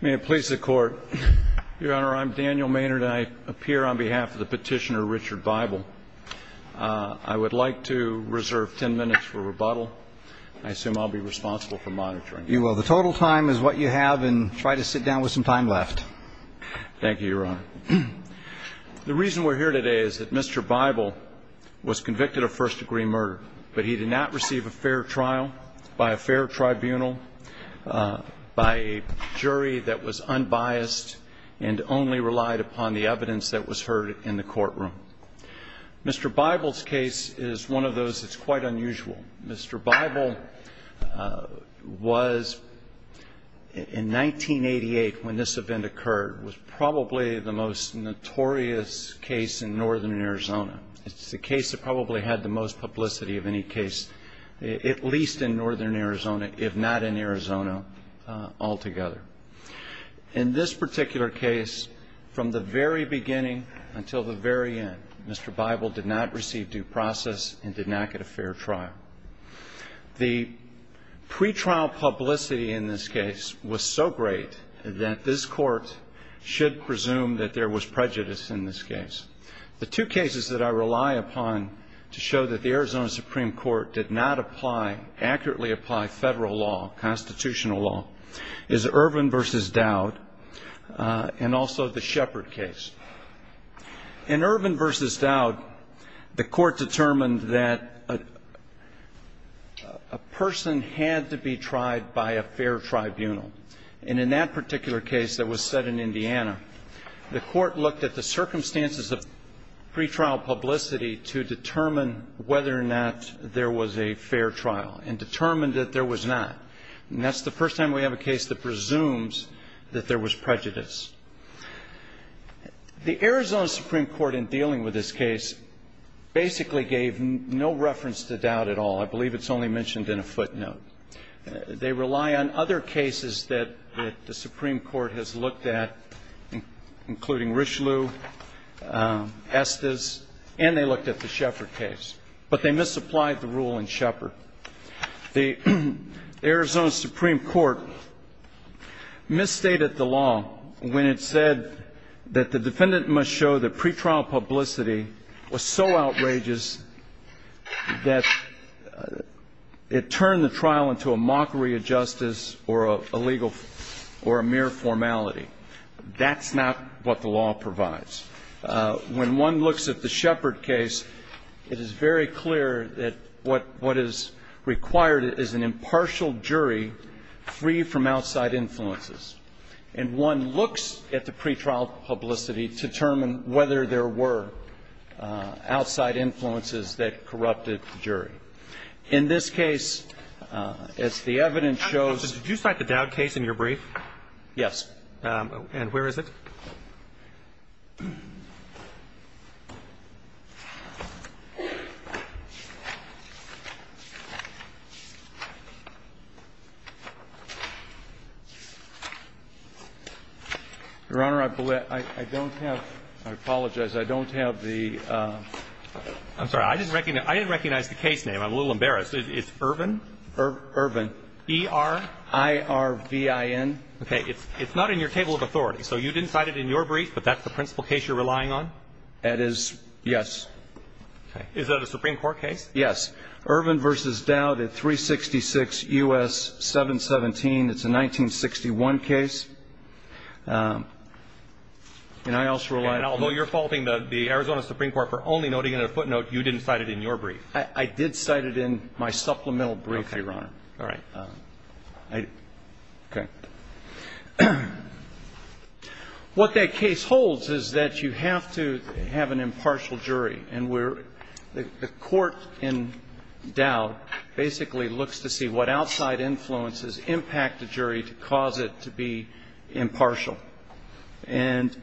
May it please the Court, Your Honor, I'm Daniel Maynard and I appear on behalf of the petitioner, Richard Bible. I would like to reserve ten minutes for rebuttal. I assume I'll be responsible for monitoring. You will. The total time is what you have and try to sit down with some time left. Thank you, Your Honor. The reason we're here today is that Mr. Bible was convicted of first degree murder, but he did not receive a fair trial by a fair tribunal, by a jury that was unbiased and only relied upon the evidence that was heard in the courtroom. Mr. Bible's case is one of those that's quite unusual. Mr. Bible was, in 1988 when this event occurred, was probably the most notorious case in northern Arizona. It's the case that probably had the most publicity of any case, at least in northern Arizona, if not in Arizona altogether. In this particular case, from the very beginning until the very end, Mr. Bible did not receive due process and did not get a fair trial. The pretrial publicity in this case was so great that this Court should presume that there was prejudice in this case. The two cases that I rely upon to show that the Arizona Supreme Court did not apply, accurately apply federal law, constitutional law, is Ervin v. Dowd and also the Shepard case. In Ervin v. Dowd, the Court determined that a person had to be tried by a fair tribunal. And in that particular case that was set in Indiana, the Court looked at the circumstances of pretrial publicity to determine whether or not there was a fair trial and determined that there was not. And that's the first time we have a case that presumes that there was prejudice. The Arizona Supreme Court, in dealing with this case, basically gave no reference to Dowd at all. I believe it's only mentioned in a footnote. They rely on other cases that the Supreme Court has looked at, including Richelieu, Estes, and they looked at the Shepard case. But they misapplied the rule in Shepard. The Arizona Supreme Court misstated the law when it said that the defendant must show that pretrial publicity was so outrageous that it turned the trial into a mockery of justice or a legal or a mere formality. That's not what the law provides. When one looks at the Shepard case, it is very clear that what is required is an impartial jury free from outside influences. And one looks at the pretrial publicity to determine whether there were outside influences that corrupted the jury. In this case, as the evidence shows ---- Did you cite the Dowd case in your brief? Yes. And where is it? Your Honor, I don't have ---- I apologize. I don't have the ---- I'm sorry. I didn't recognize the case name. I'm a little embarrassed. It's Ervin? Ervin. E-r-i-r-v-i-n. Okay. It's not in your table of authority. So you didn't cite it in your brief, but that's the principal case you're relying on? That is ---- Yes. Okay. Is that a Supreme Court case? Yes. Ervin v. Dowd at 366 U.S. 717. It's a 1961 case. And I also relied on ---- And although you're faulting the Arizona Supreme Court for only noting it in a footnote, you didn't cite it in your brief? I did cite it in my supplemental brief, Your Honor. Okay. All right. Okay. What that case holds is that you have to have an impartial jury. And the court in Dowd basically looks to see what outside influences impact the jury to cause it to be impartial. And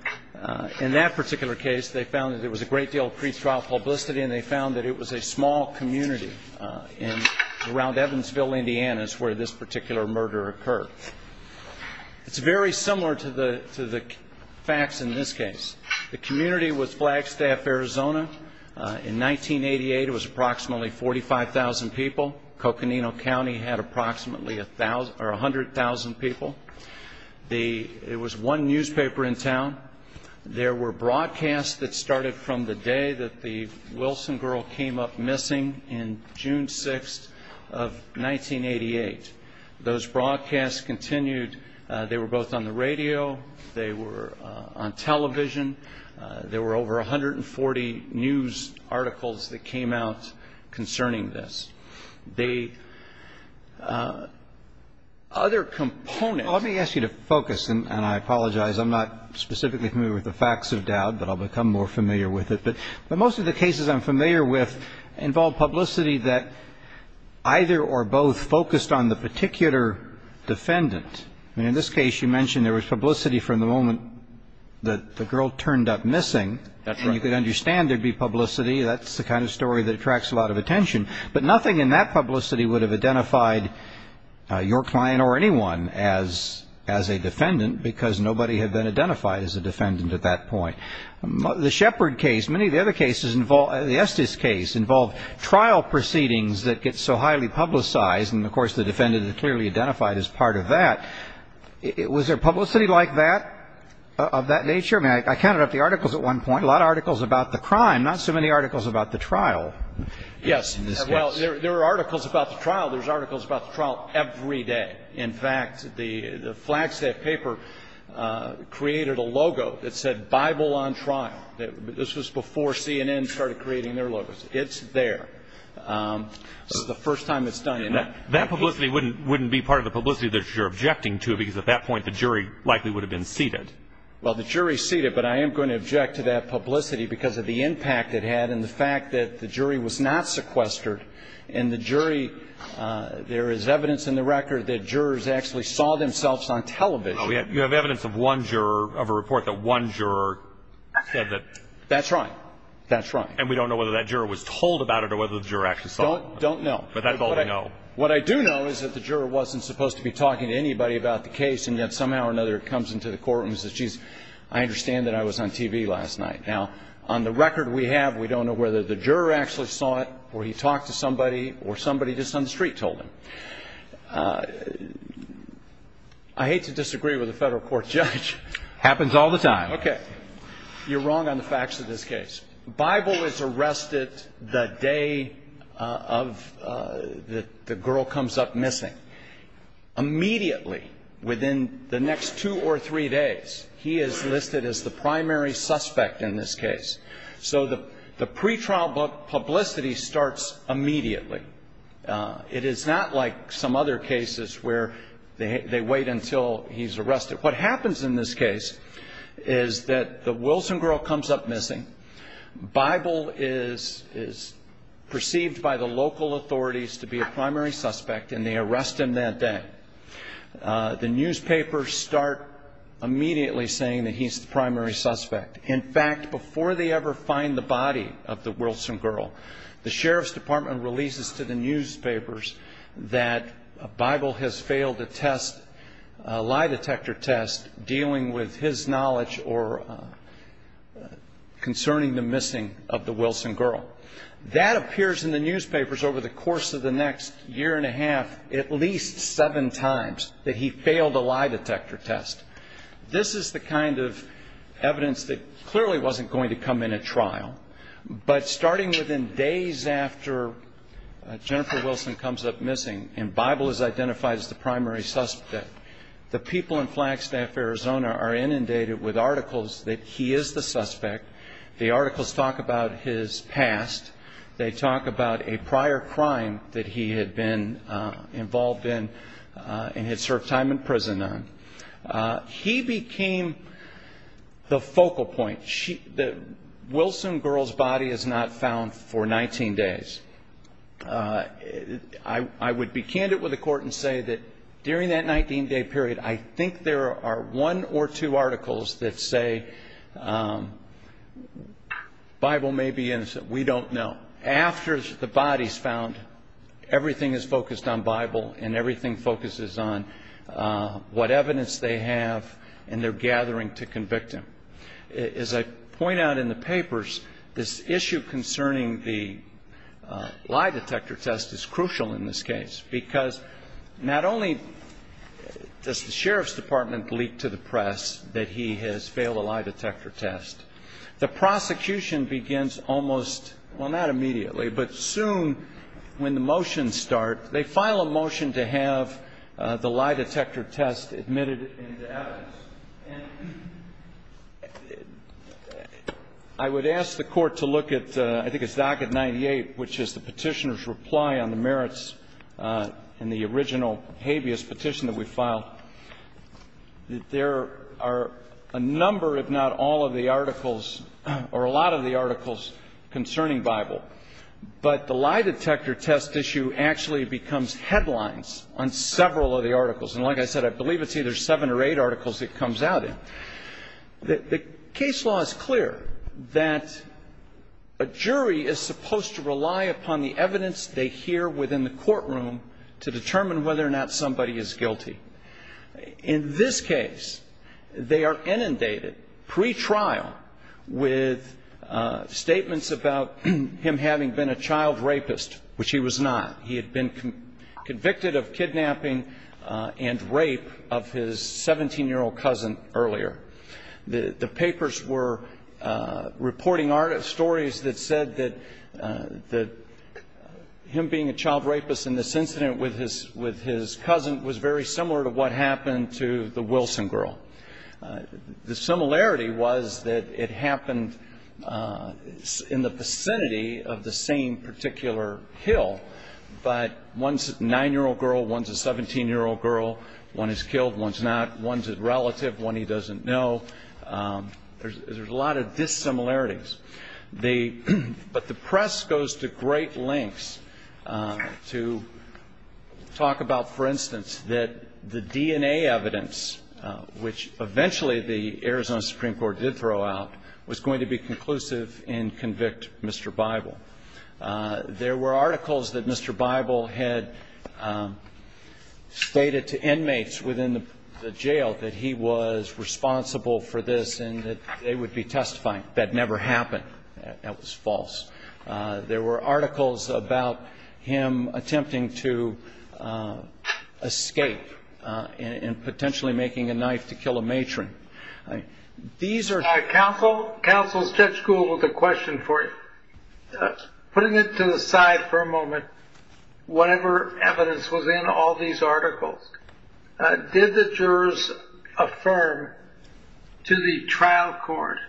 in that particular case, they found that there was a great deal of pre-trial publicity, and they found that it was a small community around Evansville, Indiana, is where this particular murder occurred. It's very similar to the facts in this case. The community was Flagstaff, Arizona. In 1988, it was approximately 45,000 people. Coconino County had approximately 100,000 people. It was one newspaper in town. There were broadcasts that started from the day that the Wilson girl came up missing in June 6th of 1988. Those broadcasts continued. They were both on the radio. They were on television. There were over 140 news articles that came out concerning this. The other component ---- And I apologize. I'm not specifically familiar with the facts of Dowd, but I'll become more familiar with it. But most of the cases I'm familiar with involve publicity that either or both focused on the particular defendant. And in this case, you mentioned there was publicity from the moment that the girl turned up missing. That's right. And you could understand there'd be publicity. That's the kind of story that attracts a lot of attention. But nothing in that publicity would have identified your client or anyone as a defendant because nobody had been identified as a defendant at that point. The Shepard case, many of the other cases involve ---- The Estes case involved trial proceedings that get so highly publicized. And, of course, the defendant is clearly identified as part of that. Was there publicity like that, of that nature? I counted up the articles at one point, a lot of articles about the crime, not so many articles about the trial. Yes. Well, there are articles about the trial. There's articles about the trial every day. In fact, the Flagstaff paper created a logo that said Bible on Trial. This was before CNN started creating their logos. It's there. This is the first time it's done. That publicity wouldn't be part of the publicity that you're objecting to because at that point the jury likely would have been seated. Well, the jury's seated, but I am going to object to that publicity because of the impact it had and the fact that the jury was not sequestered. In the jury, there is evidence in the record that jurors actually saw themselves on television. You have evidence of one juror of a report that one juror said that ---- That's right. That's right. And we don't know whether that juror was told about it or whether the juror actually saw it. Don't know. But that's all we know. What I do know is that the juror wasn't supposed to be talking to anybody about the case, and yet somehow or another it comes into the court and says, geez, I understand that I was on TV last night. Now, on the record we have, we don't know whether the juror actually saw it or he talked to somebody or somebody just on the street told him. I hate to disagree with a federal court judge. Happens all the time. Okay. You're wrong on the facts of this case. Bible is arrested the day of the girl comes up missing. Immediately, within the next two or three days, he is listed as the primary suspect in this case. So the pretrial publicity starts immediately. It is not like some other cases where they wait until he's arrested. What happens in this case is that the Wilson girl comes up missing. Bible is perceived by the local authorities to be a primary suspect, and they arrest him that day. The newspapers start immediately saying that he's the primary suspect. In fact, before they ever find the body of the Wilson girl, the sheriff's department releases to the newspapers that Bible has failed a test, a lie detector test dealing with his knowledge or concerning the missing of the Wilson girl. That appears in the newspapers over the course of the next year and a half at least seven times, that he failed a lie detector test. This is the kind of evidence that clearly wasn't going to come in at trial. But starting within days after Jennifer Wilson comes up missing and Bible is identified as the primary suspect, the people in Flagstaff, Arizona are inundated with articles that he is the suspect. The articles talk about his past. They talk about a prior crime that he had been involved in and had served time in prison on. He became the focal point. The Wilson girl's body is not found for 19 days. I would be candid with the court and say that during that 19-day period, I think there are one or two articles that say Bible may be innocent. We don't know. After the body is found, everything is focused on Bible and everything focuses on what evidence they have and their gathering to convict him. As I point out in the papers, this issue concerning the lie detector test is crucial in this case because not only does the sheriff's department leak to the press that he has failed a lie detector test, the prosecution begins almost, well, not immediately, but soon when the motions start, they file a motion to have the lie detector test admitted into evidence. And I would ask the court to look at, I think it's docket 98, which is the petitioner's reply on the merits in the original habeas petition that we filed. There are a number, if not all, of the articles or a lot of the articles concerning Bible. But the lie detector test issue actually becomes headlines on several of the articles. And like I said, I believe it's either seven or eight articles it comes out in. The case law is clear that a jury is supposed to rely upon the evidence they hear within the courtroom to determine whether or not somebody is guilty. In this case, they are inundated pre-trial with statements about him having been a child rapist, which he was not. He had been convicted of kidnapping and rape of his 17-year-old cousin earlier. The papers were reporting stories that said that him being a child rapist in this incident with his cousin was very similar to what happened to the Wilson girl. The similarity was that it happened in the vicinity of the same particular hill, but one's a 9-year-old girl, one's a 17-year-old girl. One is killed, one's not. One's a relative, one he doesn't know. There's a lot of dissimilarities. But the press goes to great lengths to talk about, for instance, that the DNA evidence, which eventually the Arizona Supreme Court did throw out, was going to be conclusive and convict Mr. Bible. There were articles that Mr. Bible had stated to inmates within the jail that he was responsible for this and that they would be testifying. That never happened. That was false. There were articles about him attempting to escape and potentially making a knife to kill a matron. These are- Counsel, Judge Gould has a question for you. Putting it to the side for a moment, whatever evidence was in all these articles, did the jurors affirm to the trial court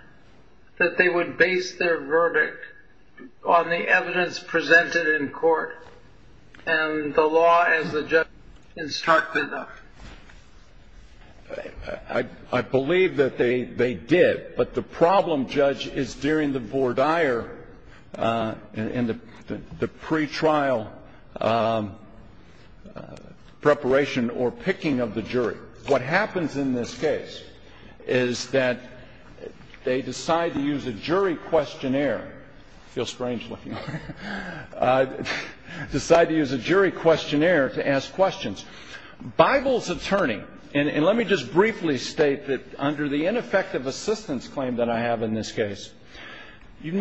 that they would base their verdict on the evidence presented in court and the law as the judge instructed them? I believe that they did. But the problem, Judge, is during the vordire and the pretrial preparation or picking of the jury. What happens in this case is that they decide to use a jury questionnaire. I feel strange looking at it. Decide to use a jury questionnaire to ask questions. Bible's attorney, and let me just briefly state that under the ineffective assistance claim that I have in this case, you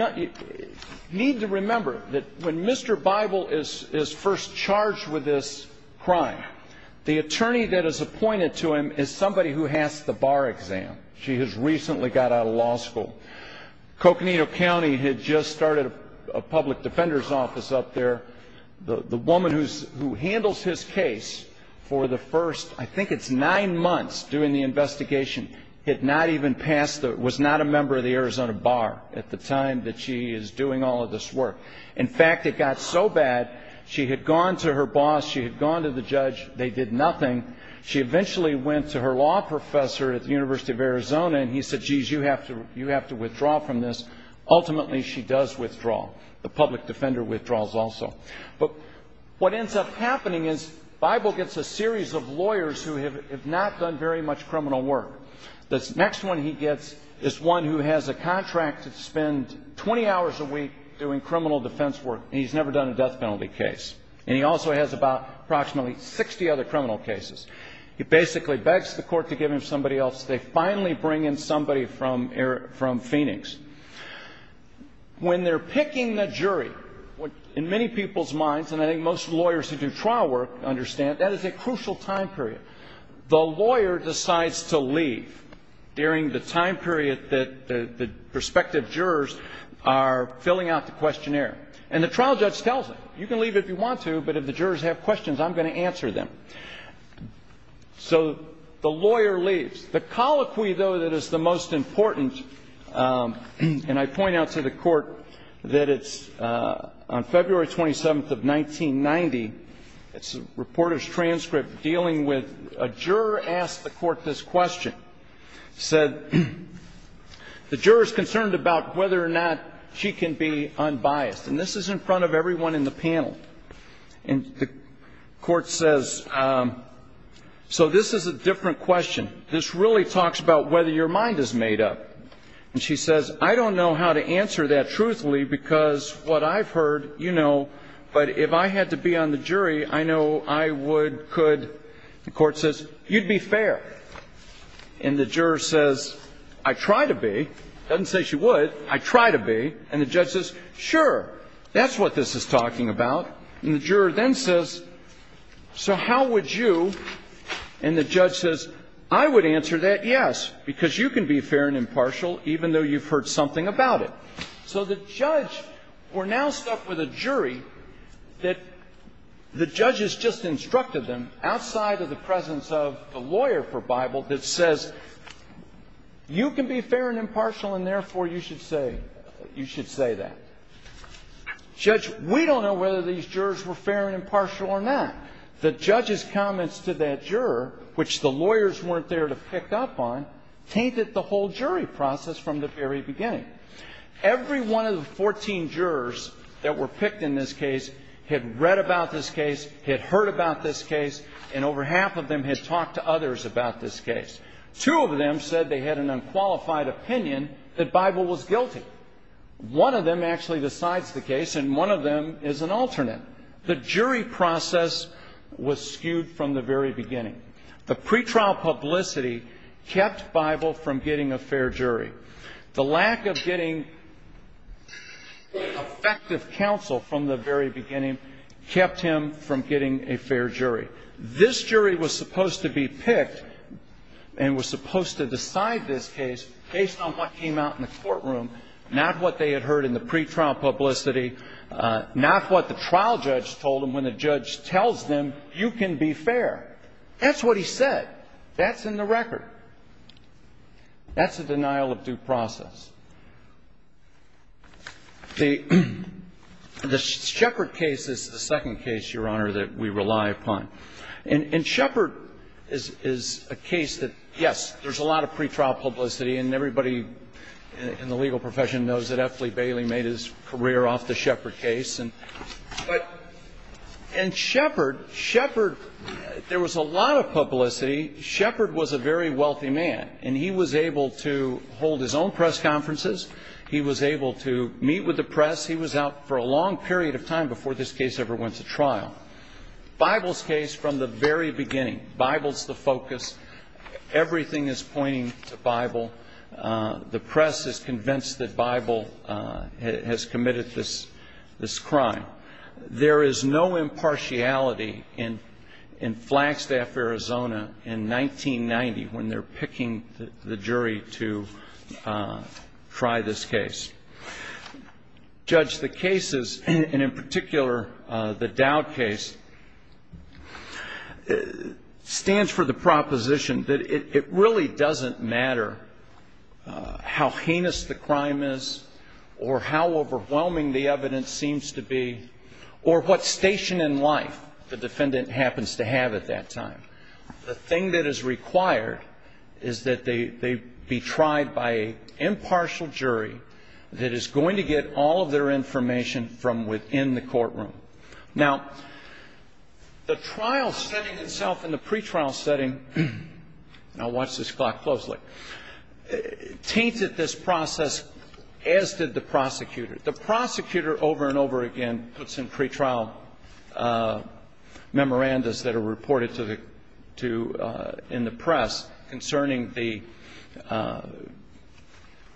need to remember that when Mr. Bible is first charged with this crime, the attorney that is appointed to him is somebody who has the bar exam. She has recently got out of law school. Coconino County had just started a public defender's office up there. The woman who handles his case for the first, I think it's nine months during the investigation, had not even passed the, was not a member of the Arizona Bar at the time that she is doing all of this work. In fact, it got so bad, she had gone to her boss, she had gone to the judge, they did nothing. She eventually went to her law professor at the University of Arizona, and he said, geez, you have to withdraw from this. Ultimately, she does withdraw. The public defender withdraws also. But what ends up happening is Bible gets a series of lawyers who have not done very much criminal work. The next one he gets is one who has a contract to spend 20 hours a week doing criminal defense work, and he's never done a death penalty case. And he also has about approximately 60 other criminal cases. He basically begs the court to give him somebody else. They finally bring in somebody from Phoenix. When they're picking the jury, in many people's minds, and I think most lawyers who do trial work understand, that is a crucial time period. The lawyer decides to leave during the time period that the prospective jurors are filling out the questionnaire. And the trial judge tells him, you can leave if you want to, but if the jurors have questions, I'm going to answer them. So the lawyer leaves. The colloquy, though, that is the most important, and I point out to the court that it's on February 27th of 1990, it's a reporter's transcript dealing with a juror asked the court this question, said, the juror is concerned about whether or not she can be unbiased. And this is in front of everyone in the panel. And the court says, so this is a different question. This really talks about whether your mind is made up. And she says, I don't know how to answer that truthfully because what I've heard, you know, but if I had to be on the jury, I know I would, could. The court says, you'd be fair. And the juror says, I try to be. Doesn't say she would. I try to be. And the judge says, sure, that's what this is talking about. And the juror then says, so how would you? And the judge says, I would answer that yes, because you can be fair and impartial, even though you've heard something about it. So the judge, we're now stuck with a jury that the judge has just instructed them, outside of the presence of the lawyer for Bible, that says, you can be fair and impartial, and therefore, you should say that. Judge, we don't know whether these jurors were fair and impartial or not. The judge's comments to that juror, which the lawyers weren't there to pick up on, tainted the whole jury process from the very beginning. Every one of the 14 jurors that were picked in this case had read about this case, had heard about this case, and over half of them had talked to others about this case. Two of them said they had an unqualified opinion that Bible was guilty. One of them actually decides the case, and one of them is an alternate. The jury process was skewed from the very beginning. The pretrial publicity kept Bible from getting a fair jury. The lack of getting effective counsel from the very beginning kept him from getting a fair jury. This jury was supposed to be picked and was supposed to decide this case based on what came out in the courtroom, not what they had heard in the pretrial publicity, not what the trial judge told them when the judge tells them you can be fair. That's what he said. That's in the record. That's a denial of due process. The Shepard case is the second case, Your Honor, that we rely upon. And Shepard is a case that, yes, there's a lot of pretrial publicity, and everybody in the legal profession knows that F. Lee Bailey made his career off the Shepard case. But in Shepard, Shepard, there was a lot of publicity. Shepard was a very wealthy man, and he was able to hold his own press conference He was able to meet with the press. He was out for a long period of time before this case ever went to trial. Bible's case, from the very beginning, Bible's the focus. Everything is pointing to Bible. The press is convinced that Bible has committed this crime. There is no impartiality in Flagstaff, Arizona, in 1990, when they're picking the jury to try this case. Judge, the cases, and in particular the Dowd case, stands for the proposition that it really doesn't matter how heinous the crime is or how overwhelming the evidence seems to be or what station in life the defendant happens to have at that time. The thing that is required is that they be tried by an impartial jury that is going to get all of their information from within the courtroom. Now, the trial setting itself in the pretrial setting, and I'll watch this clock closely, tainted this process, as did the prosecutor. The prosecutor, over and over again, puts in pretrial memorandums that are reported in the press concerning the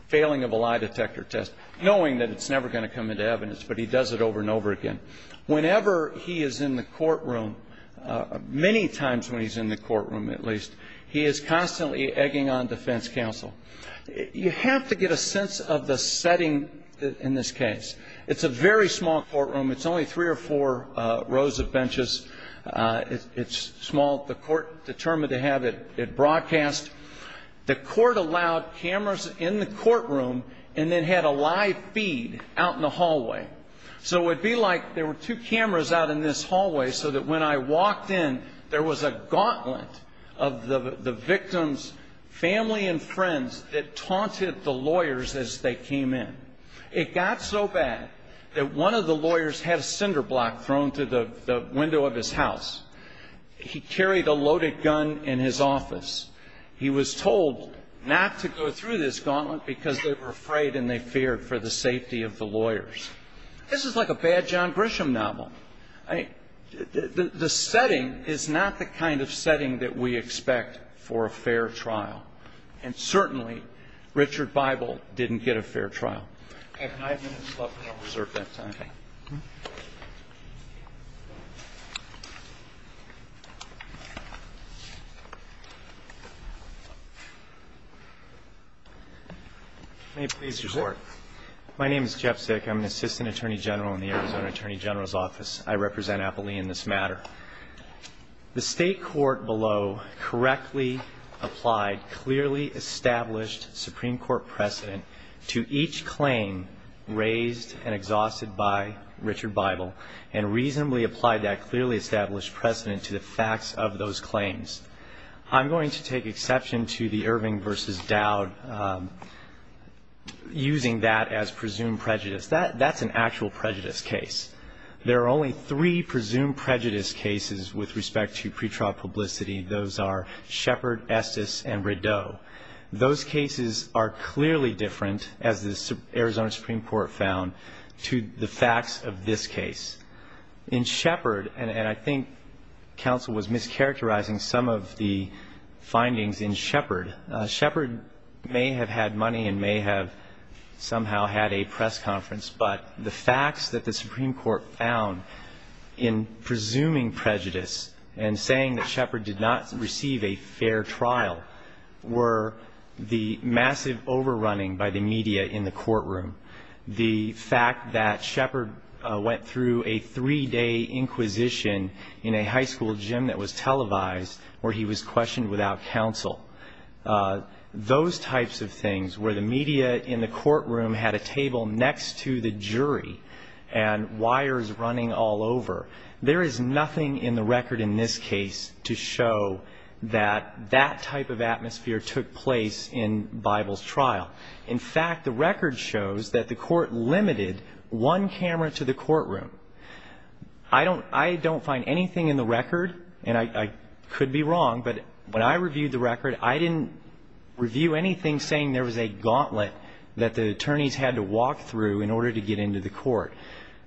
failing of a lie detector test, knowing that it's never going to come into evidence, but he does it over and over again. Whenever he is in the courtroom, many times when he's in the courtroom at least, he is constantly egging on defense counsel. You have to get a sense of the setting in this case. It's a very small courtroom. It's only three or four rows of benches. It's small. The court determined to have it broadcast. The court allowed cameras in the courtroom and then had a live feed out in the hallway. So it would be like there were two cameras out in this hallway so that when I walked in, there was a gauntlet of the victim's family and friends that taunted the lawyers as they came in. It got so bad that one of the lawyers had a cinder block thrown to the window of his house. He carried a loaded gun in his office. He was told not to go through this gauntlet because they were afraid and they feared for the safety of the lawyers. This is like a bad John Grisham novel. The setting is not the kind of setting that we expect for a fair trial, and certainly Richard Bible didn't get a fair trial. I have five minutes left, and I'll reserve that time. May it please the Court. My name is Jeff Sick. I'm an assistant attorney general in the Arizona Attorney General's Office. I represent Appalachian in this matter. The state court below correctly applied clearly established Supreme Court precedent to each claim raised and exhausted by Richard Bible and reasonably applied that clearly established precedent to the facts of those claims. I'm going to take exception to the Irving v. Dowd using that as presumed prejudice. That's an actual prejudice case. There are only three presumed prejudice cases with respect to pretrial publicity. Those are Shepard, Estes, and Rideau. Those cases are clearly different, as the Arizona Supreme Court found, to the facts of this case. In Shepard, and I think counsel was mischaracterizing some of the findings in Shepard, Shepard may have had money and may have somehow had a press conference, but the facts that the Supreme Court found in presuming prejudice and saying that Shepard did not receive a fair trial were the massive overrunning by the media in the courtroom, the fact that Shepard went through a three-day inquisition in a high school gym that was televised where he was questioned without counsel, those types of things where the media in the courtroom had a table next to the jury and wires running all over, there is nothing in the record in this case to show that that type of atmosphere took place in Bible's trial. In fact, the record shows that the court limited one camera to the courtroom. I don't find anything in the record, and I could be wrong, but when I reviewed the record, I didn't review anything saying there was a gauntlet that the attorneys had to walk through in order to get into the court.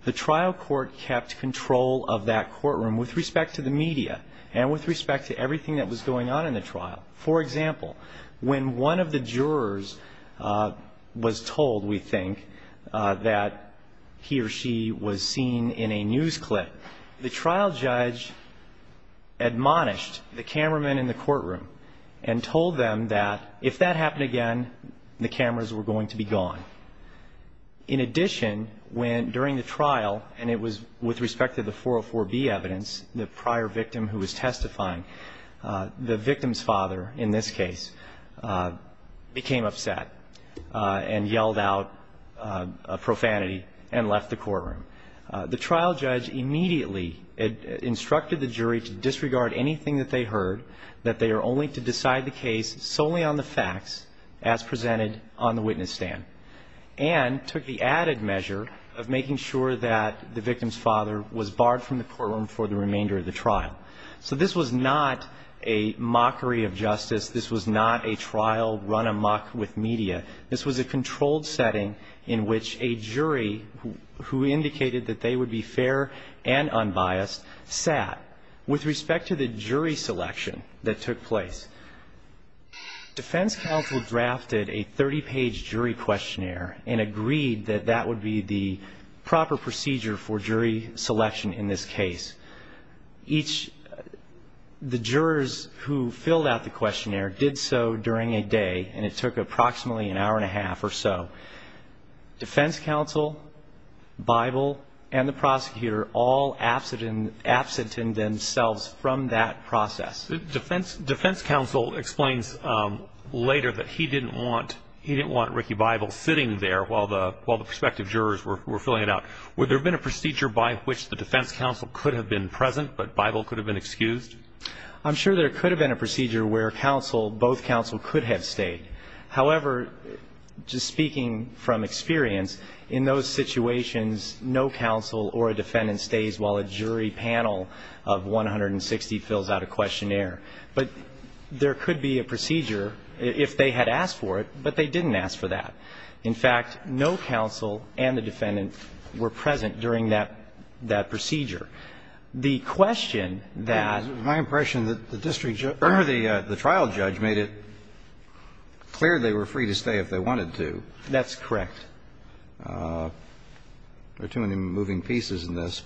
The trial court kept control of that courtroom with respect to the media and with respect to everything that was going on in the trial. For example, when one of the jurors was told, we think, that he or she was seen in a news clip, the trial judge admonished the cameraman in the courtroom and told them that if that happened again, the cameras were going to be gone. In addition, during the trial, and it was with respect to the 404B evidence, the prior victim who was testifying, the victim's father in this case became upset and yelled out profanity and left the courtroom. The trial judge immediately instructed the jury to disregard anything that they heard, that they are only to decide the case solely on the facts as presented on the witness stand, and took the added measure of making sure that the victim's father was barred from the courtroom for the remainder of the trial. So this was not a mockery of justice. This was not a trial run amok with media. This was a controlled setting in which a jury who indicated that they would be fair and unbiased sat. With respect to the jury selection that took place, defense counsel drafted a 30-page jury questionnaire and agreed that that would be the proper procedure for jury selection in this case. The jurors who filled out the questionnaire did so during a day, and it took approximately an hour and a half or so. Defense counsel, Bible, and the prosecutor all absented themselves from that process. Defense counsel explains later that he didn't want Ricky Bible sitting there while the prospective jurors were filling it out. Would there have been a procedure by which the defense counsel could have been present, but Bible could have been excused? I'm sure there could have been a procedure where both counsel could have stayed. However, just speaking from experience, in those situations, no counsel or a defendant stays while a jury panel of 160 fills out a questionnaire. But there could be a procedure if they had asked for it, but they didn't ask for that. In fact, no counsel and the defendant were present during that procedure. The question that the trial judge made it clear they were free to stay if they wanted to. That's correct. There are too many moving pieces in this.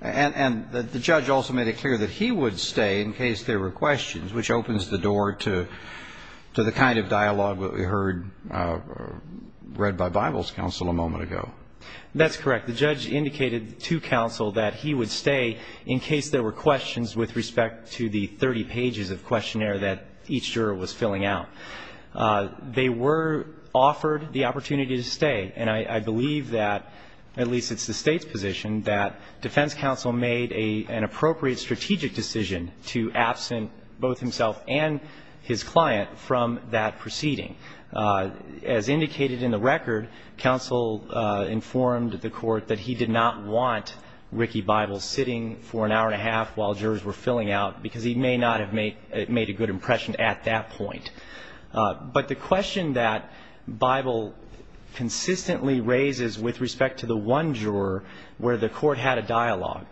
And the judge also made it clear that he would stay in case there were questions, which opens the door to the kind of dialogue that we heard read by Bible's counsel a moment ago. That's correct. The judge indicated to counsel that he would stay in case there were questions with respect to the 30 pages of questionnaire that each juror was filling out. They were offered the opportunity to stay. And I believe that, at least it's the State's position, that defense counsel made an appropriate strategic decision to absent both himself and his client from that proceeding. As indicated in the record, counsel informed the court that he did not want Ricky Bible sitting for an hour and a half while jurors were filling out because he may not have made a good impression at that point. But the question that Bible consistently raises with respect to the one juror where the court had a dialogue,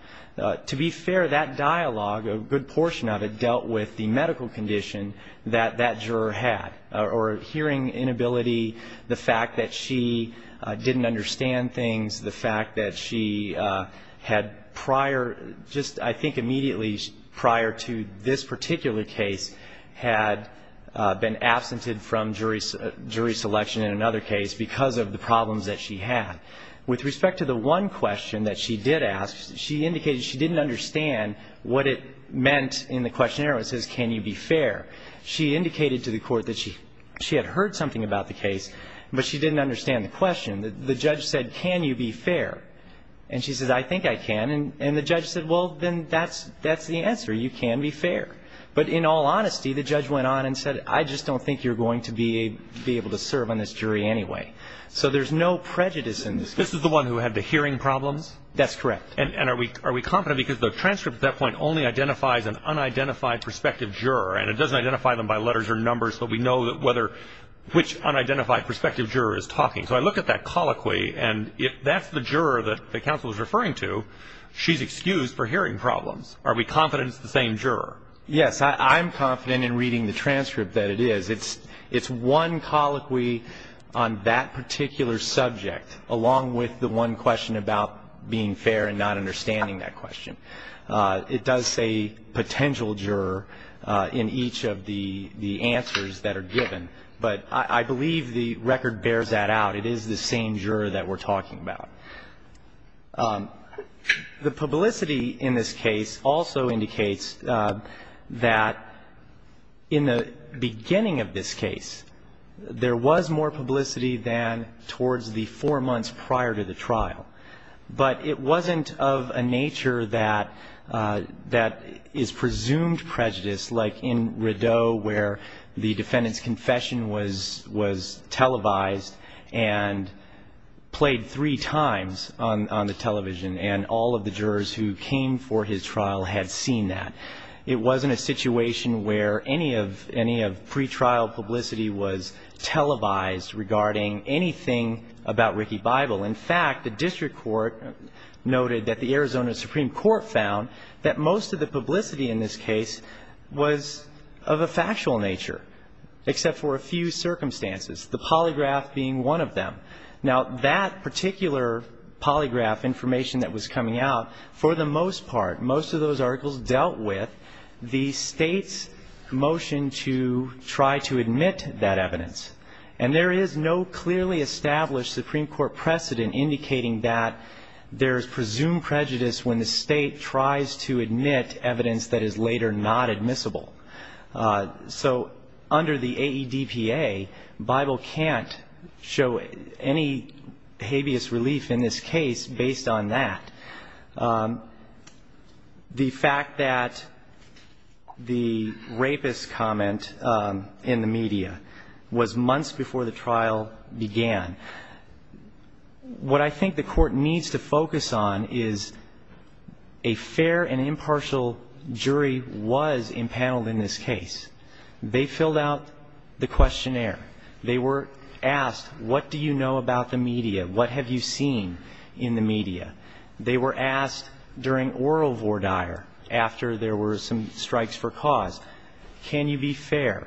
to be fair, that dialogue, a good portion of it, dealt with the medical condition that that juror had, or hearing inability, the fact that she didn't understand things, the fact that she had prior, just I think immediately prior to this particular case, had been absented from jury selection in another case because of the problems that she had. With respect to the one question that she did ask, she indicated she didn't understand what it meant in the questionnaire. It says, can you be fair? She indicated to the court that she had heard something about the case, but she didn't understand the question. The judge said, can you be fair? And she said, I think I can. And the judge said, well, then that's the answer. You can be fair. But in all honesty, the judge went on and said, I just don't think you're going to be able to serve on this jury anyway. So there's no prejudice in this case. This is the one who had the hearing problems? That's correct. And are we confident? Because the transcript at that point only identifies an unidentified prospective juror, and it doesn't identify them by letters or numbers, but we know which unidentified prospective juror is talking. So I look at that colloquy, and if that's the juror that the counsel is referring to, she's excused for hearing problems. Are we confident it's the same juror? Yes, I'm confident in reading the transcript that it is. It's one colloquy on that particular subject, along with the one question about being fair and not understanding that question. It does say potential juror in each of the answers that are given. But I believe the record bears that out. It is the same juror that we're talking about. The publicity in this case also indicates that in the beginning of this case, there was more publicity than towards the four months prior to the trial. But it wasn't of a nature that is presumed prejudice, like in Rideau where the defendant's confession was televised and played three times on the television, and all of the jurors who came for his trial had seen that. It wasn't a situation where any of pretrial publicity was televised regarding anything about Ricky Bible. In fact, the district court noted that the Arizona Supreme Court found that most of the publicity in this case was of a factual nature, except for a few circumstances, the polygraph being one of them. Now, that particular polygraph information that was coming out, for the most part, most of those articles dealt with the State's motion to try to admit that evidence. And there is no clearly established Supreme Court precedent indicating that there is presumed prejudice when the State tries to admit evidence that is later not admissible. So under the AEDPA, Bible can't show any habeas relief in this case based on that. The fact that the rapist comment in the media was months before the trial began. What I think the Court needs to focus on is a fair and impartial jury was impaneled in this case. They filled out the questionnaire. They were asked, what do you know about the media? What have you seen in the media? They were asked during oral voir dire, after there were some strikes for cause, can you be fair?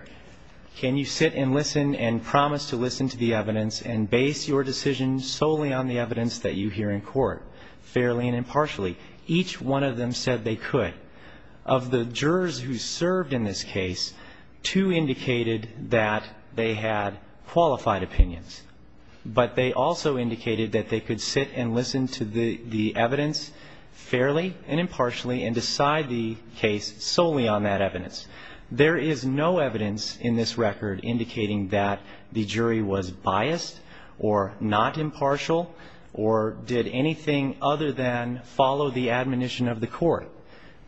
Can you sit and listen and promise to listen to the evidence and base your decision solely on the evidence that you hear in court, fairly and impartially? Each one of them said they could. Of the jurors who served in this case, two indicated that they had qualified opinions, but they also indicated that they could sit and listen to the evidence fairly and impartially and decide the case solely on that evidence. There is no evidence in this record indicating that the jury was biased or not impartial or did anything other than follow the admonition of the court.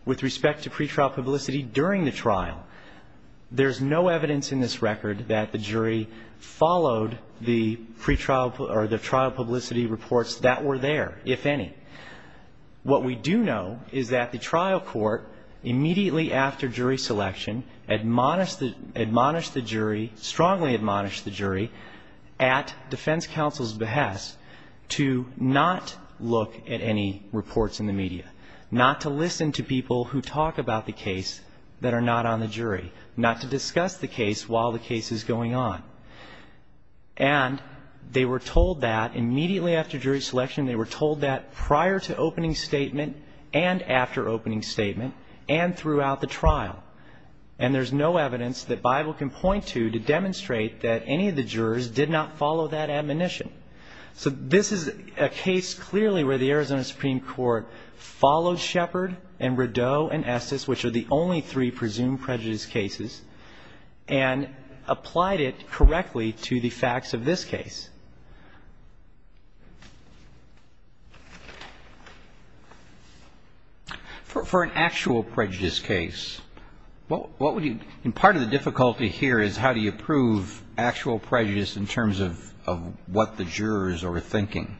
With respect to pretrial publicity during the trial, there's no evidence in this record that the jury followed the pretrial or the trial publicity reports that were there, if any. What we do know is that the trial court, immediately after jury selection, admonished the jury, strongly admonished the jury, at defense counsel's behest to not look at any reports in the media, not to listen to people who talk about the case that are not on the jury, not to discuss the case while the case is going on. And they were told that immediately after jury selection, they were told that prior to opening statement and after opening statement and throughout the trial. And there's no evidence that Bible can point to to demonstrate that any of the jurors did not follow that admonition. So this is a case, clearly, where the Arizona Supreme Court followed Shepard and Rideau and Estes, which are the only three presumed prejudice cases, and applied it correctly to the facts of this case. For an actual prejudice case, what would you do? And part of the difficulty here is how do you prove actual prejudice in terms of what the jurors are thinking?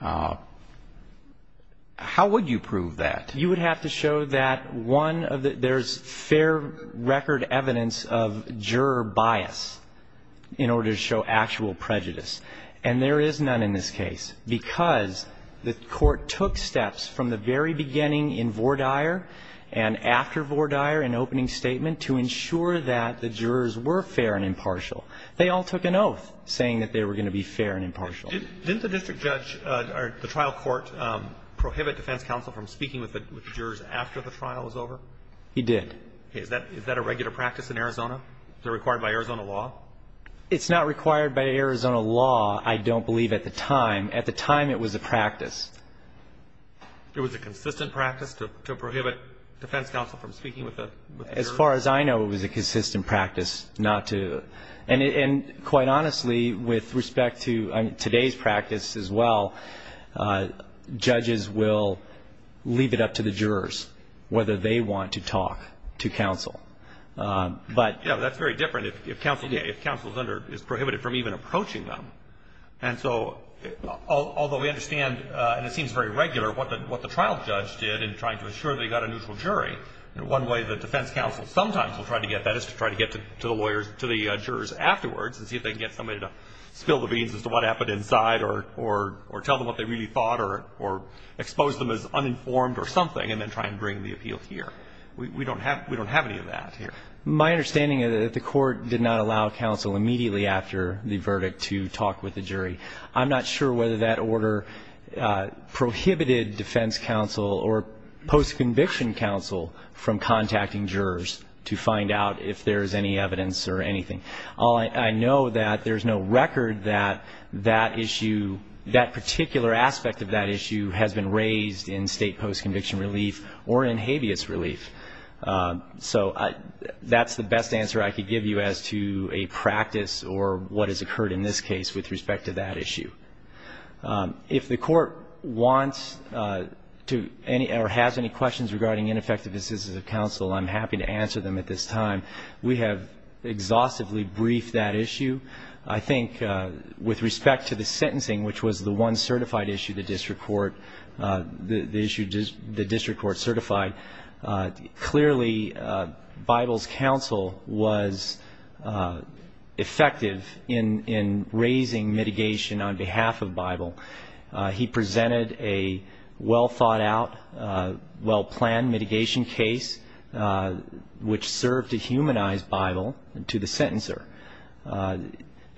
How would you prove that? You would have to show that one of the – there's fair record evidence of juror bias in order to show actual prejudice. And there is none in this case because the court took steps from the very beginning in Vordaer and after Vordaer in opening statement to ensure that the jurors were fair and impartial. They all took an oath saying that they were going to be fair and impartial. Didn't the district judge or the trial court prohibit defense counsel from speaking with the jurors after the trial was over? He did. Is that a regular practice in Arizona? Is it required by Arizona law? It's not required by Arizona law, I don't believe, at the time. At the time, it was a practice. It was a consistent practice to prohibit defense counsel from speaking with the jurors? As far as I know, it was a consistent practice not to. And quite honestly, with respect to today's practice as well, judges will leave it up to the jurors whether they want to talk to counsel. That's very different if counsel is prohibited from even approaching them. And so although we understand, and it seems very regular, what the trial judge did in trying to ensure they got a neutral jury, one way the defense counsel sometimes will try to get that is to try to get to the jurors afterwards and see if they can get somebody to spill the beans as to what happened inside or tell them what they really thought or expose them as uninformed or something and then try and bring the appeal here. We don't have any of that here. My understanding is that the court did not allow counsel immediately after the verdict to talk with the jury. I'm not sure whether that order prohibited defense counsel or post-conviction counsel from contacting jurors to find out if there's any evidence or anything. All I know that there's no record that that issue, that particular aspect of that issue, has been raised in state post-conviction relief or in habeas relief. So that's the best answer I could give you as to a practice or what has occurred in this case with respect to that issue. If the court wants to or has any questions regarding ineffective decisions of counsel, I'm happy to answer them at this time. We have exhaustively briefed that issue. I think with respect to the sentencing, which was the one certified issue the district court certified, clearly Bible's counsel was effective in raising mitigation on behalf of Bible. He presented a well-thought-out, well-planned mitigation case, which served to humanize Bible to the sentencer.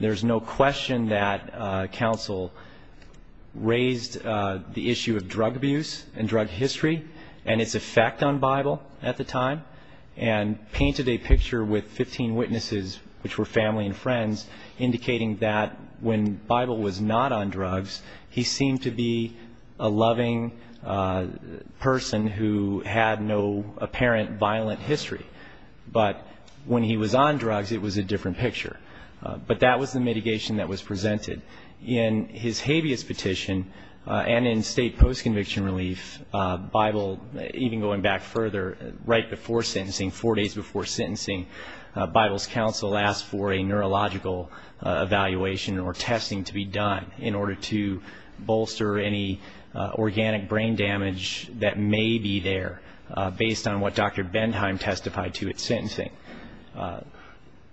There's no question that counsel raised the issue of drug abuse and drug history and its effect on Bible at the time and painted a picture with 15 witnesses, which were family and friends, indicating that when Bible was not on drugs, he seemed to be a loving person who had no apparent violent history. But when he was on drugs, it was a different picture. But that was the mitigation that was presented. In his habeas petition and in state post-conviction relief, Bible, even going back further, right before sentencing, four days before sentencing, Bible's counsel asked for a neurological evaluation or testing to be done in order to bolster any organic brain damage that may be there, based on what Dr. Benheim testified to at sentencing.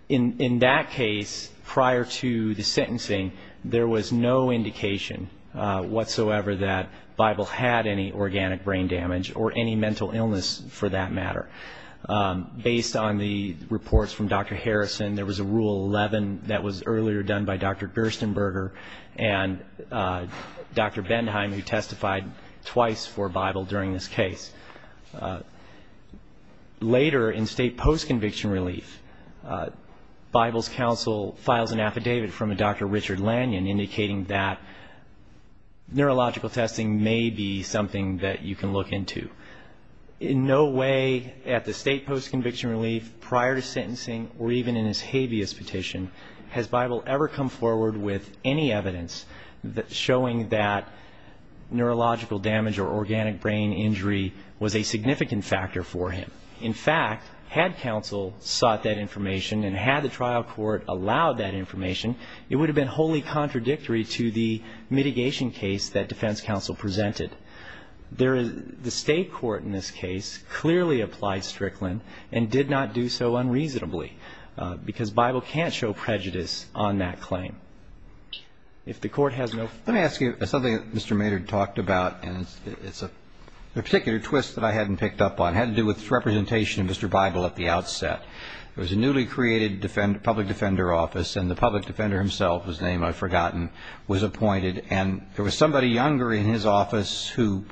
In that case, prior to the sentencing, there was no indication whatsoever that Bible had any organic brain damage or any mental illness, for that matter, based on the reports from Dr. Harrison. There was a Rule 11 that was earlier done by Dr. Gerstenberger and Dr. Benheim, who testified twice for Bible during this case. Later, in state post-conviction relief, Bible's counsel files an affidavit from a Dr. Richard Lanyon indicating that neurological testing may be something that you can look into. In no way at the state post-conviction relief, prior to sentencing, or even in his habeas petition, has Bible ever come forward with any evidence showing that neurological damage or organic brain injury was a significant factor for him. In fact, had counsel sought that information and had the trial court allowed that information, it would have been wholly contradictory to the mitigation case that defense counsel presented. The state court in this case clearly applied Strickland and did not do so unreasonably, because Bible can't show prejudice on that claim. Let me ask you something that Mr. Maynard talked about, and it's a particular twist that I hadn't picked up on. It had to do with representation of Mr. Bible at the outset. There was a newly created public defender office, and the public defender himself was named, I've forgotten, was appointed. And there was somebody younger in his office who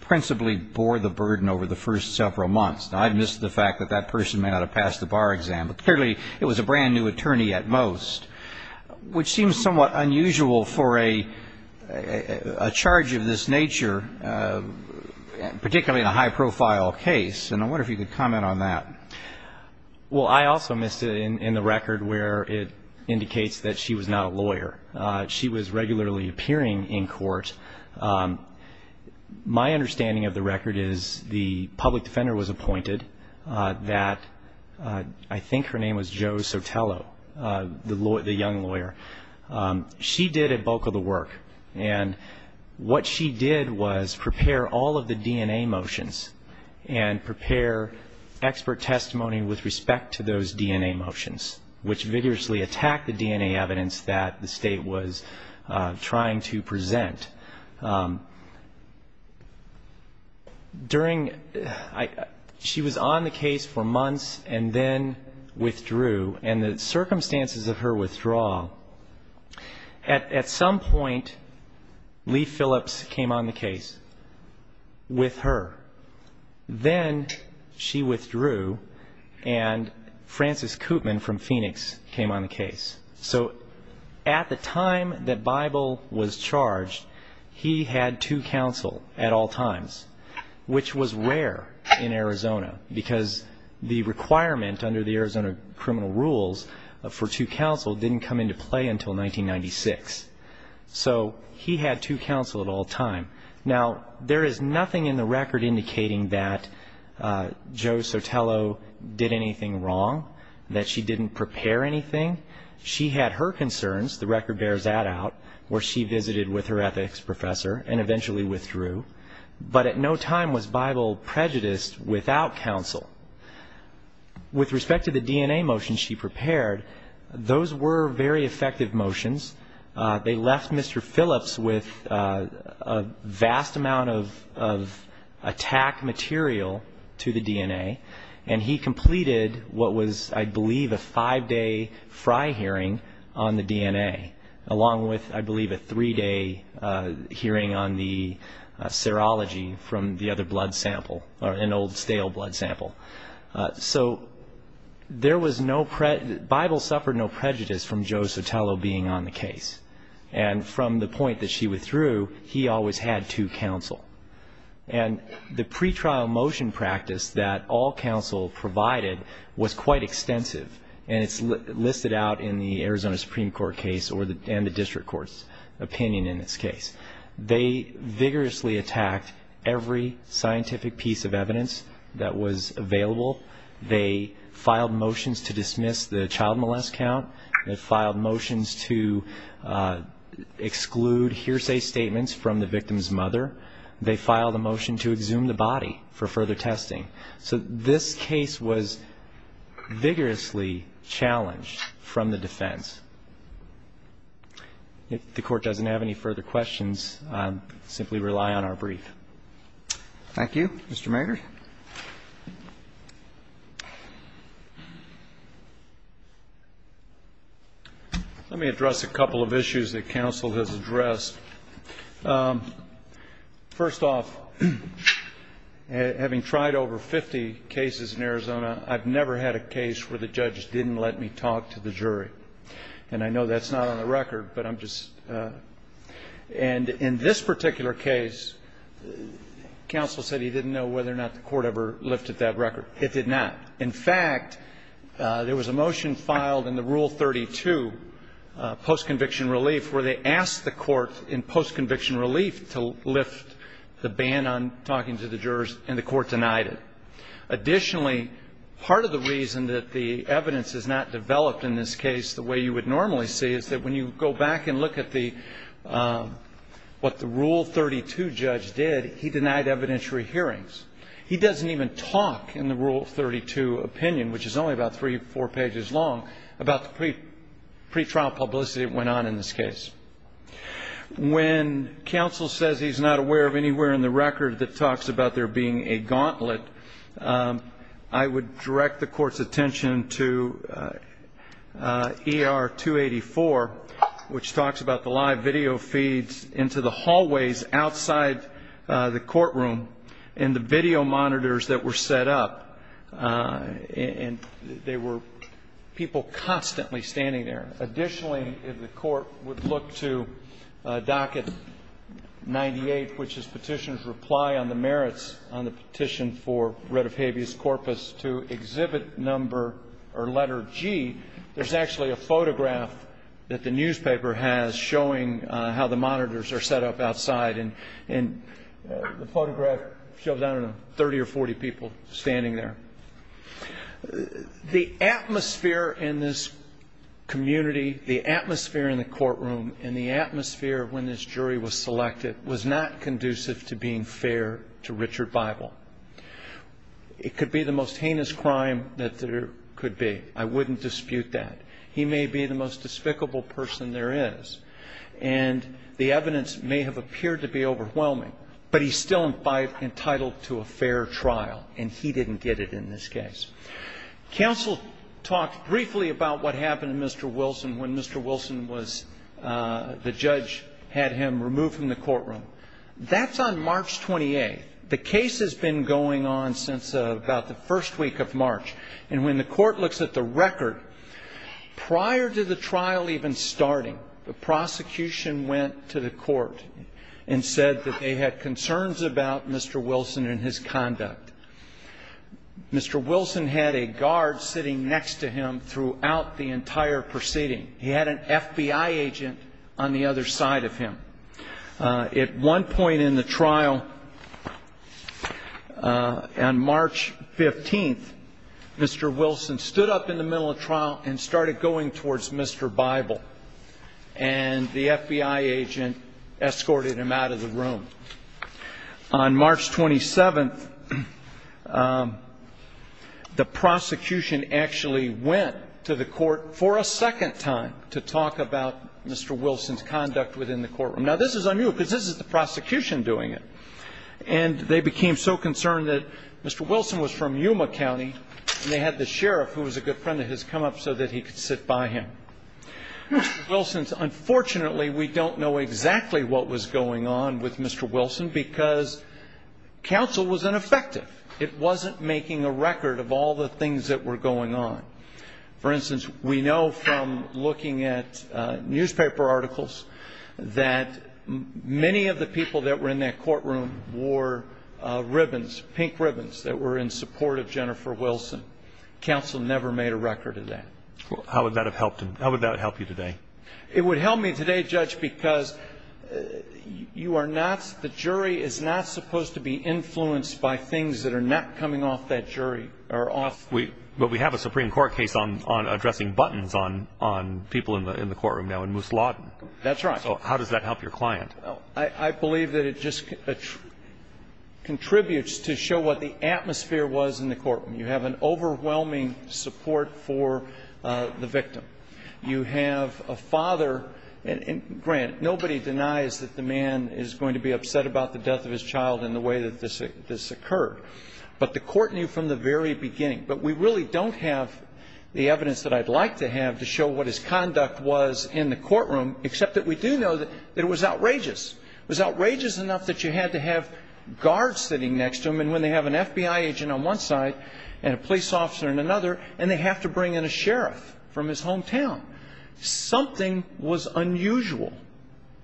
principally bore the burden over the first several months. Now, I've missed the fact that that person may not have passed the bar exam, but clearly it was a brand-new attorney at most, which seems somewhat unusual for a charge of this nature, particularly in a high-profile case. And I wonder if you could comment on that. Well, I also missed it in the record where it indicates that she was not a lawyer. She was regularly appearing in court. My understanding of the record is the public defender was appointed, that I think her name was Jo Sotelo, the young lawyer. She did a bulk of the work, and what she did was prepare all of the DNA motions and prepare expert testimony with respect to those DNA motions, which vigorously attacked the DNA evidence that the state was trying to present. She was on the case for months and then withdrew, and the circumstances of her withdrawal, at some point Lee Phillips came on the case with her. Then she withdrew, and Francis Koopman from Phoenix came on the case. So at the time that Bible was charged, he had two counsel at all times, which was rare in Arizona because the requirement under the Arizona criminal rules for two counsel didn't come into play until 1996. So he had two counsel at all time. Now, there is nothing in the record indicating that Jo Sotelo did anything wrong, that she didn't prepare anything. She had her concerns. The record bears that out, where she visited with her ethics professor and eventually withdrew. But at no time was Bible prejudiced without counsel. With respect to the DNA motions she prepared, those were very effective motions. They left Mr. Phillips with a vast amount of attack material to the DNA, and he completed what was, I believe, a five-day fry hearing on the DNA, along with, I believe, a three-day hearing on the serology from the other blood sample, an old stale blood sample. So Bible suffered no prejudice from Jo Sotelo being on the case. And from the point that she withdrew, he always had two counsel. And the pretrial motion practice that all counsel provided was quite extensive, and it's listed out in the Arizona Supreme Court case and the district court's opinion in this case. They vigorously attacked every scientific piece of evidence that was available. They filed motions to dismiss the child molest count. They filed motions to exclude hearsay statements from the victim's mother. They filed a motion to exhume the body for further testing. So this case was vigorously challenged from the defense. If the Court doesn't have any further questions, I'll simply rely on our brief. Thank you. Mr. Marger. Let me address a couple of issues that counsel has addressed. First off, having tried over 50 cases in Arizona, I've never had a case where the judge didn't let me talk to the jury. And I know that's not on the record, but I'm just — and in this particular case, counsel said he didn't know whether or not the court ever lifted that record. It did not. In fact, there was a motion filed in the Rule 32, post-conviction relief, where they asked the court in post-conviction relief to lift the ban on talking to the jurors, and the court denied it. Additionally, part of the reason that the evidence is not developed in this case the way you would normally see is that when you go back and look at what the Rule 32 judge did, he denied evidentiary hearings. He doesn't even talk in the Rule 32 opinion, which is only about three or four pages long, about the pretrial publicity that went on in this case. When counsel says he's not aware of anywhere in the record that talks about there being a gauntlet, I would direct the court's attention to ER 284, which talks about the live video feeds into the hallways outside the courtroom and the video monitors that were set up. And there were people constantly standing there. Additionally, if the court would look to docket 98, which is Petitioner's reply on the merits on the petition for writ of habeas corpus to exhibit number or letter G, there's actually a photograph that the newspaper has showing how the monitors are set up outside. And the photograph shows, I don't know, 30 or 40 people standing there. The atmosphere in this community, the atmosphere in the courtroom, and the atmosphere when this jury was selected was not conducive to being fair to Richard Bible. It could be the most heinous crime that there could be. I wouldn't dispute that. He may be the most despicable person there is, and the evidence may have appeared to be overwhelming, but he's still entitled to a fair trial, and he didn't get it in this case. Counsel talked briefly about what happened to Mr. Wilson when Mr. Wilson was the judge, had him removed from the courtroom. That's on March 28th. The case has been going on since about the first week of March. And when the court looks at the record, prior to the trial even starting, the prosecution went to the court and said that they had concerns about Mr. Wilson and his conduct. Mr. Wilson had a guard sitting next to him throughout the entire proceeding. He had an FBI agent on the other side of him. At one point in the trial, on March 15th, Mr. Wilson stood up in the middle of trial and started going towards Mr. Bible, and the FBI agent escorted him out of the room. On March 27th, the prosecution actually went to the court for a second time to talk about Mr. Wilson's conduct within the courtroom. Now, this is unusual because this is the prosecution doing it, and they became so concerned that Mr. Wilson was from Yuma County, and they had the sheriff, who was a good friend of his, come up so that he could sit by him. Unfortunately, we don't know exactly what was going on with Mr. Wilson because counsel was ineffective. It wasn't making a record of all the things that were going on. For instance, we know from looking at newspaper articles that many of the people that were in that courtroom wore ribbons, pink ribbons, that were in support of Jennifer Wilson. Counsel never made a record of that. How would that have helped you today? It would help me today, Judge, because the jury is not supposed to be influenced by things that are not coming off that jury. But we have a Supreme Court case on addressing buttons on people in the courtroom now in Moose Lawton. That's right. So how does that help your client? I believe that it just contributes to show what the atmosphere was in the courtroom. You have an overwhelming support for the victim. You have a father. Grant, nobody denies that the man is going to be upset about the death of his child and the way that this occurred. But the court knew from the very beginning. But we really don't have the evidence that I'd like to have to show what his conduct was in the courtroom, except that we do know that it was outrageous. It was outrageous enough that you had to have guards sitting next to him, and when they have an FBI agent on one side and a police officer on another, and they have to bring in a sheriff from his hometown. Something was unusual.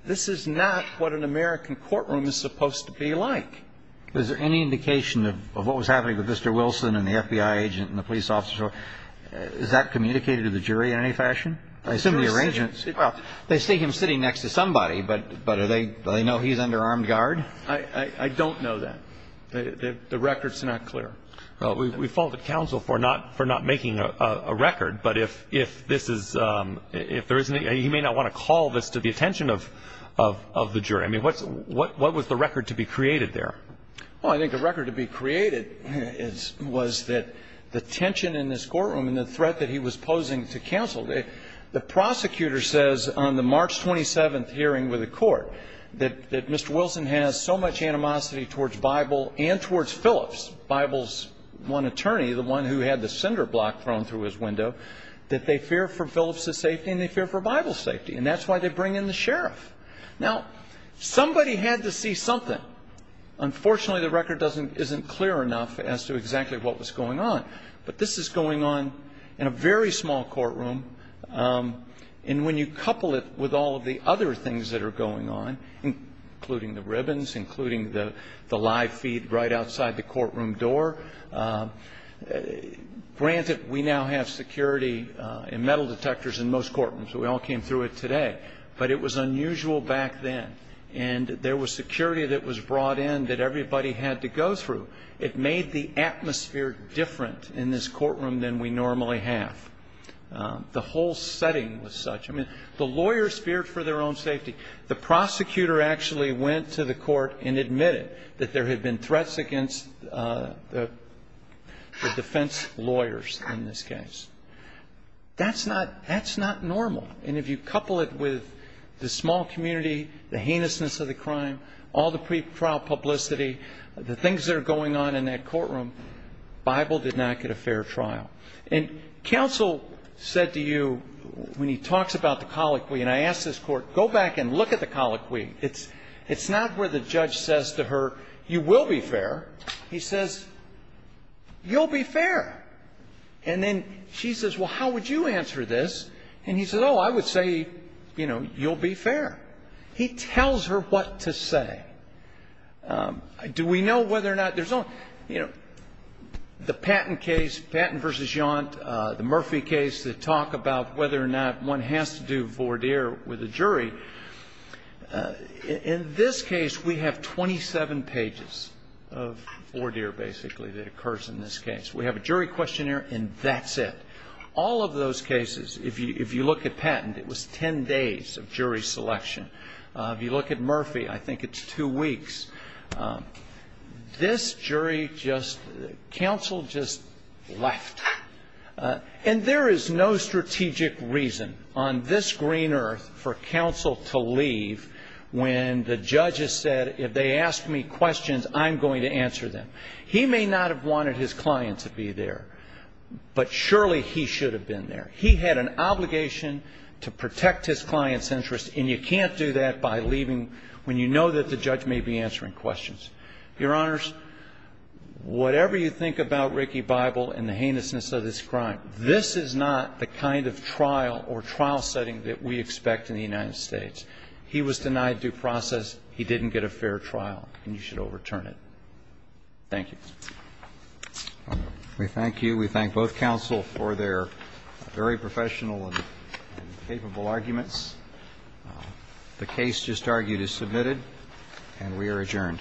This is not what an American courtroom is supposed to be like. Is there any indication of what was happening with Mr. Wilson and the FBI agent and the police officer? Is that communicated to the jury in any fashion? I assume the arrangements. Well, they see him sitting next to somebody, but do they know he's under armed guard? I don't know that. The record's not clear. Well, we fault the counsel for not making a record, but if this is ñ he may not want to call this to the attention of the jury. I mean, what was the record to be created there? Well, I think the record to be created was that the tension in this courtroom and the threat that he was posing to counsel. The prosecutor says on the March 27th hearing with the court that Mr. Wilson has so much animosity towards Bible and towards Phillips, Bible's one attorney, the one who had the cinder block thrown through his window, that they fear for Phillips' safety and they fear for Bible's safety, and that's why they bring in the sheriff. Now, somebody had to see something. Unfortunately, the record isn't clear enough as to exactly what was going on. But this is going on in a very small courtroom, and when you couple it with all of the other things that are going on, including the ribbons, including the live feed right outside the courtroom door, granted we now have security and metal detectors in most courtrooms. We all came through it today. But it was unusual back then. And there was security that was brought in that everybody had to go through. It made the atmosphere different in this courtroom than we normally have. The whole setting was such. I mean, the lawyers feared for their own safety. The prosecutor actually went to the court and admitted that there had been threats against the defense lawyers in this case. That's not normal. And if you couple it with the small community, the heinousness of the crime, all the pretrial publicity, the things that are going on in that courtroom, Bible did not get a fair trial. And counsel said to you, when he talks about the colloquy, and I asked this court, go back and look at the colloquy. It's not where the judge says to her, you will be fair. He says, you'll be fair. And then she says, well, how would you answer this? And he says, oh, I would say, you know, you'll be fair. He tells her what to say. Do we know whether or not there's only, you know, the Patton case, Patton v. Yaunt, the Murphy case that talk about whether or not one has to do voir dire with a jury. In this case, we have 27 pages of voir dire, basically, that occurs in this case. We have a jury questionnaire, and that's it. All of those cases, if you look at Patton, it was ten days of jury selection. If you look at Murphy, I think it's two weeks. This jury just, counsel just left. And there is no strategic reason on this green earth for counsel to leave when the judge has said, if they ask me questions, I'm going to answer them. He may not have wanted his client to be there, but surely he should have been there. He had an obligation to protect his client's interest, and you can't do that by leaving when you know that the judge may be answering questions. Your Honors, whatever you think about Ricky Bible and the heinousness of this crime, this is not the kind of trial or trial setting that we expect in the United States. He was denied due process. He didn't get a fair trial, and you should overturn it. Thank you. We thank you. We thank both counsel for their very professional and capable arguments. The case just argued is submitted, and we are adjourned.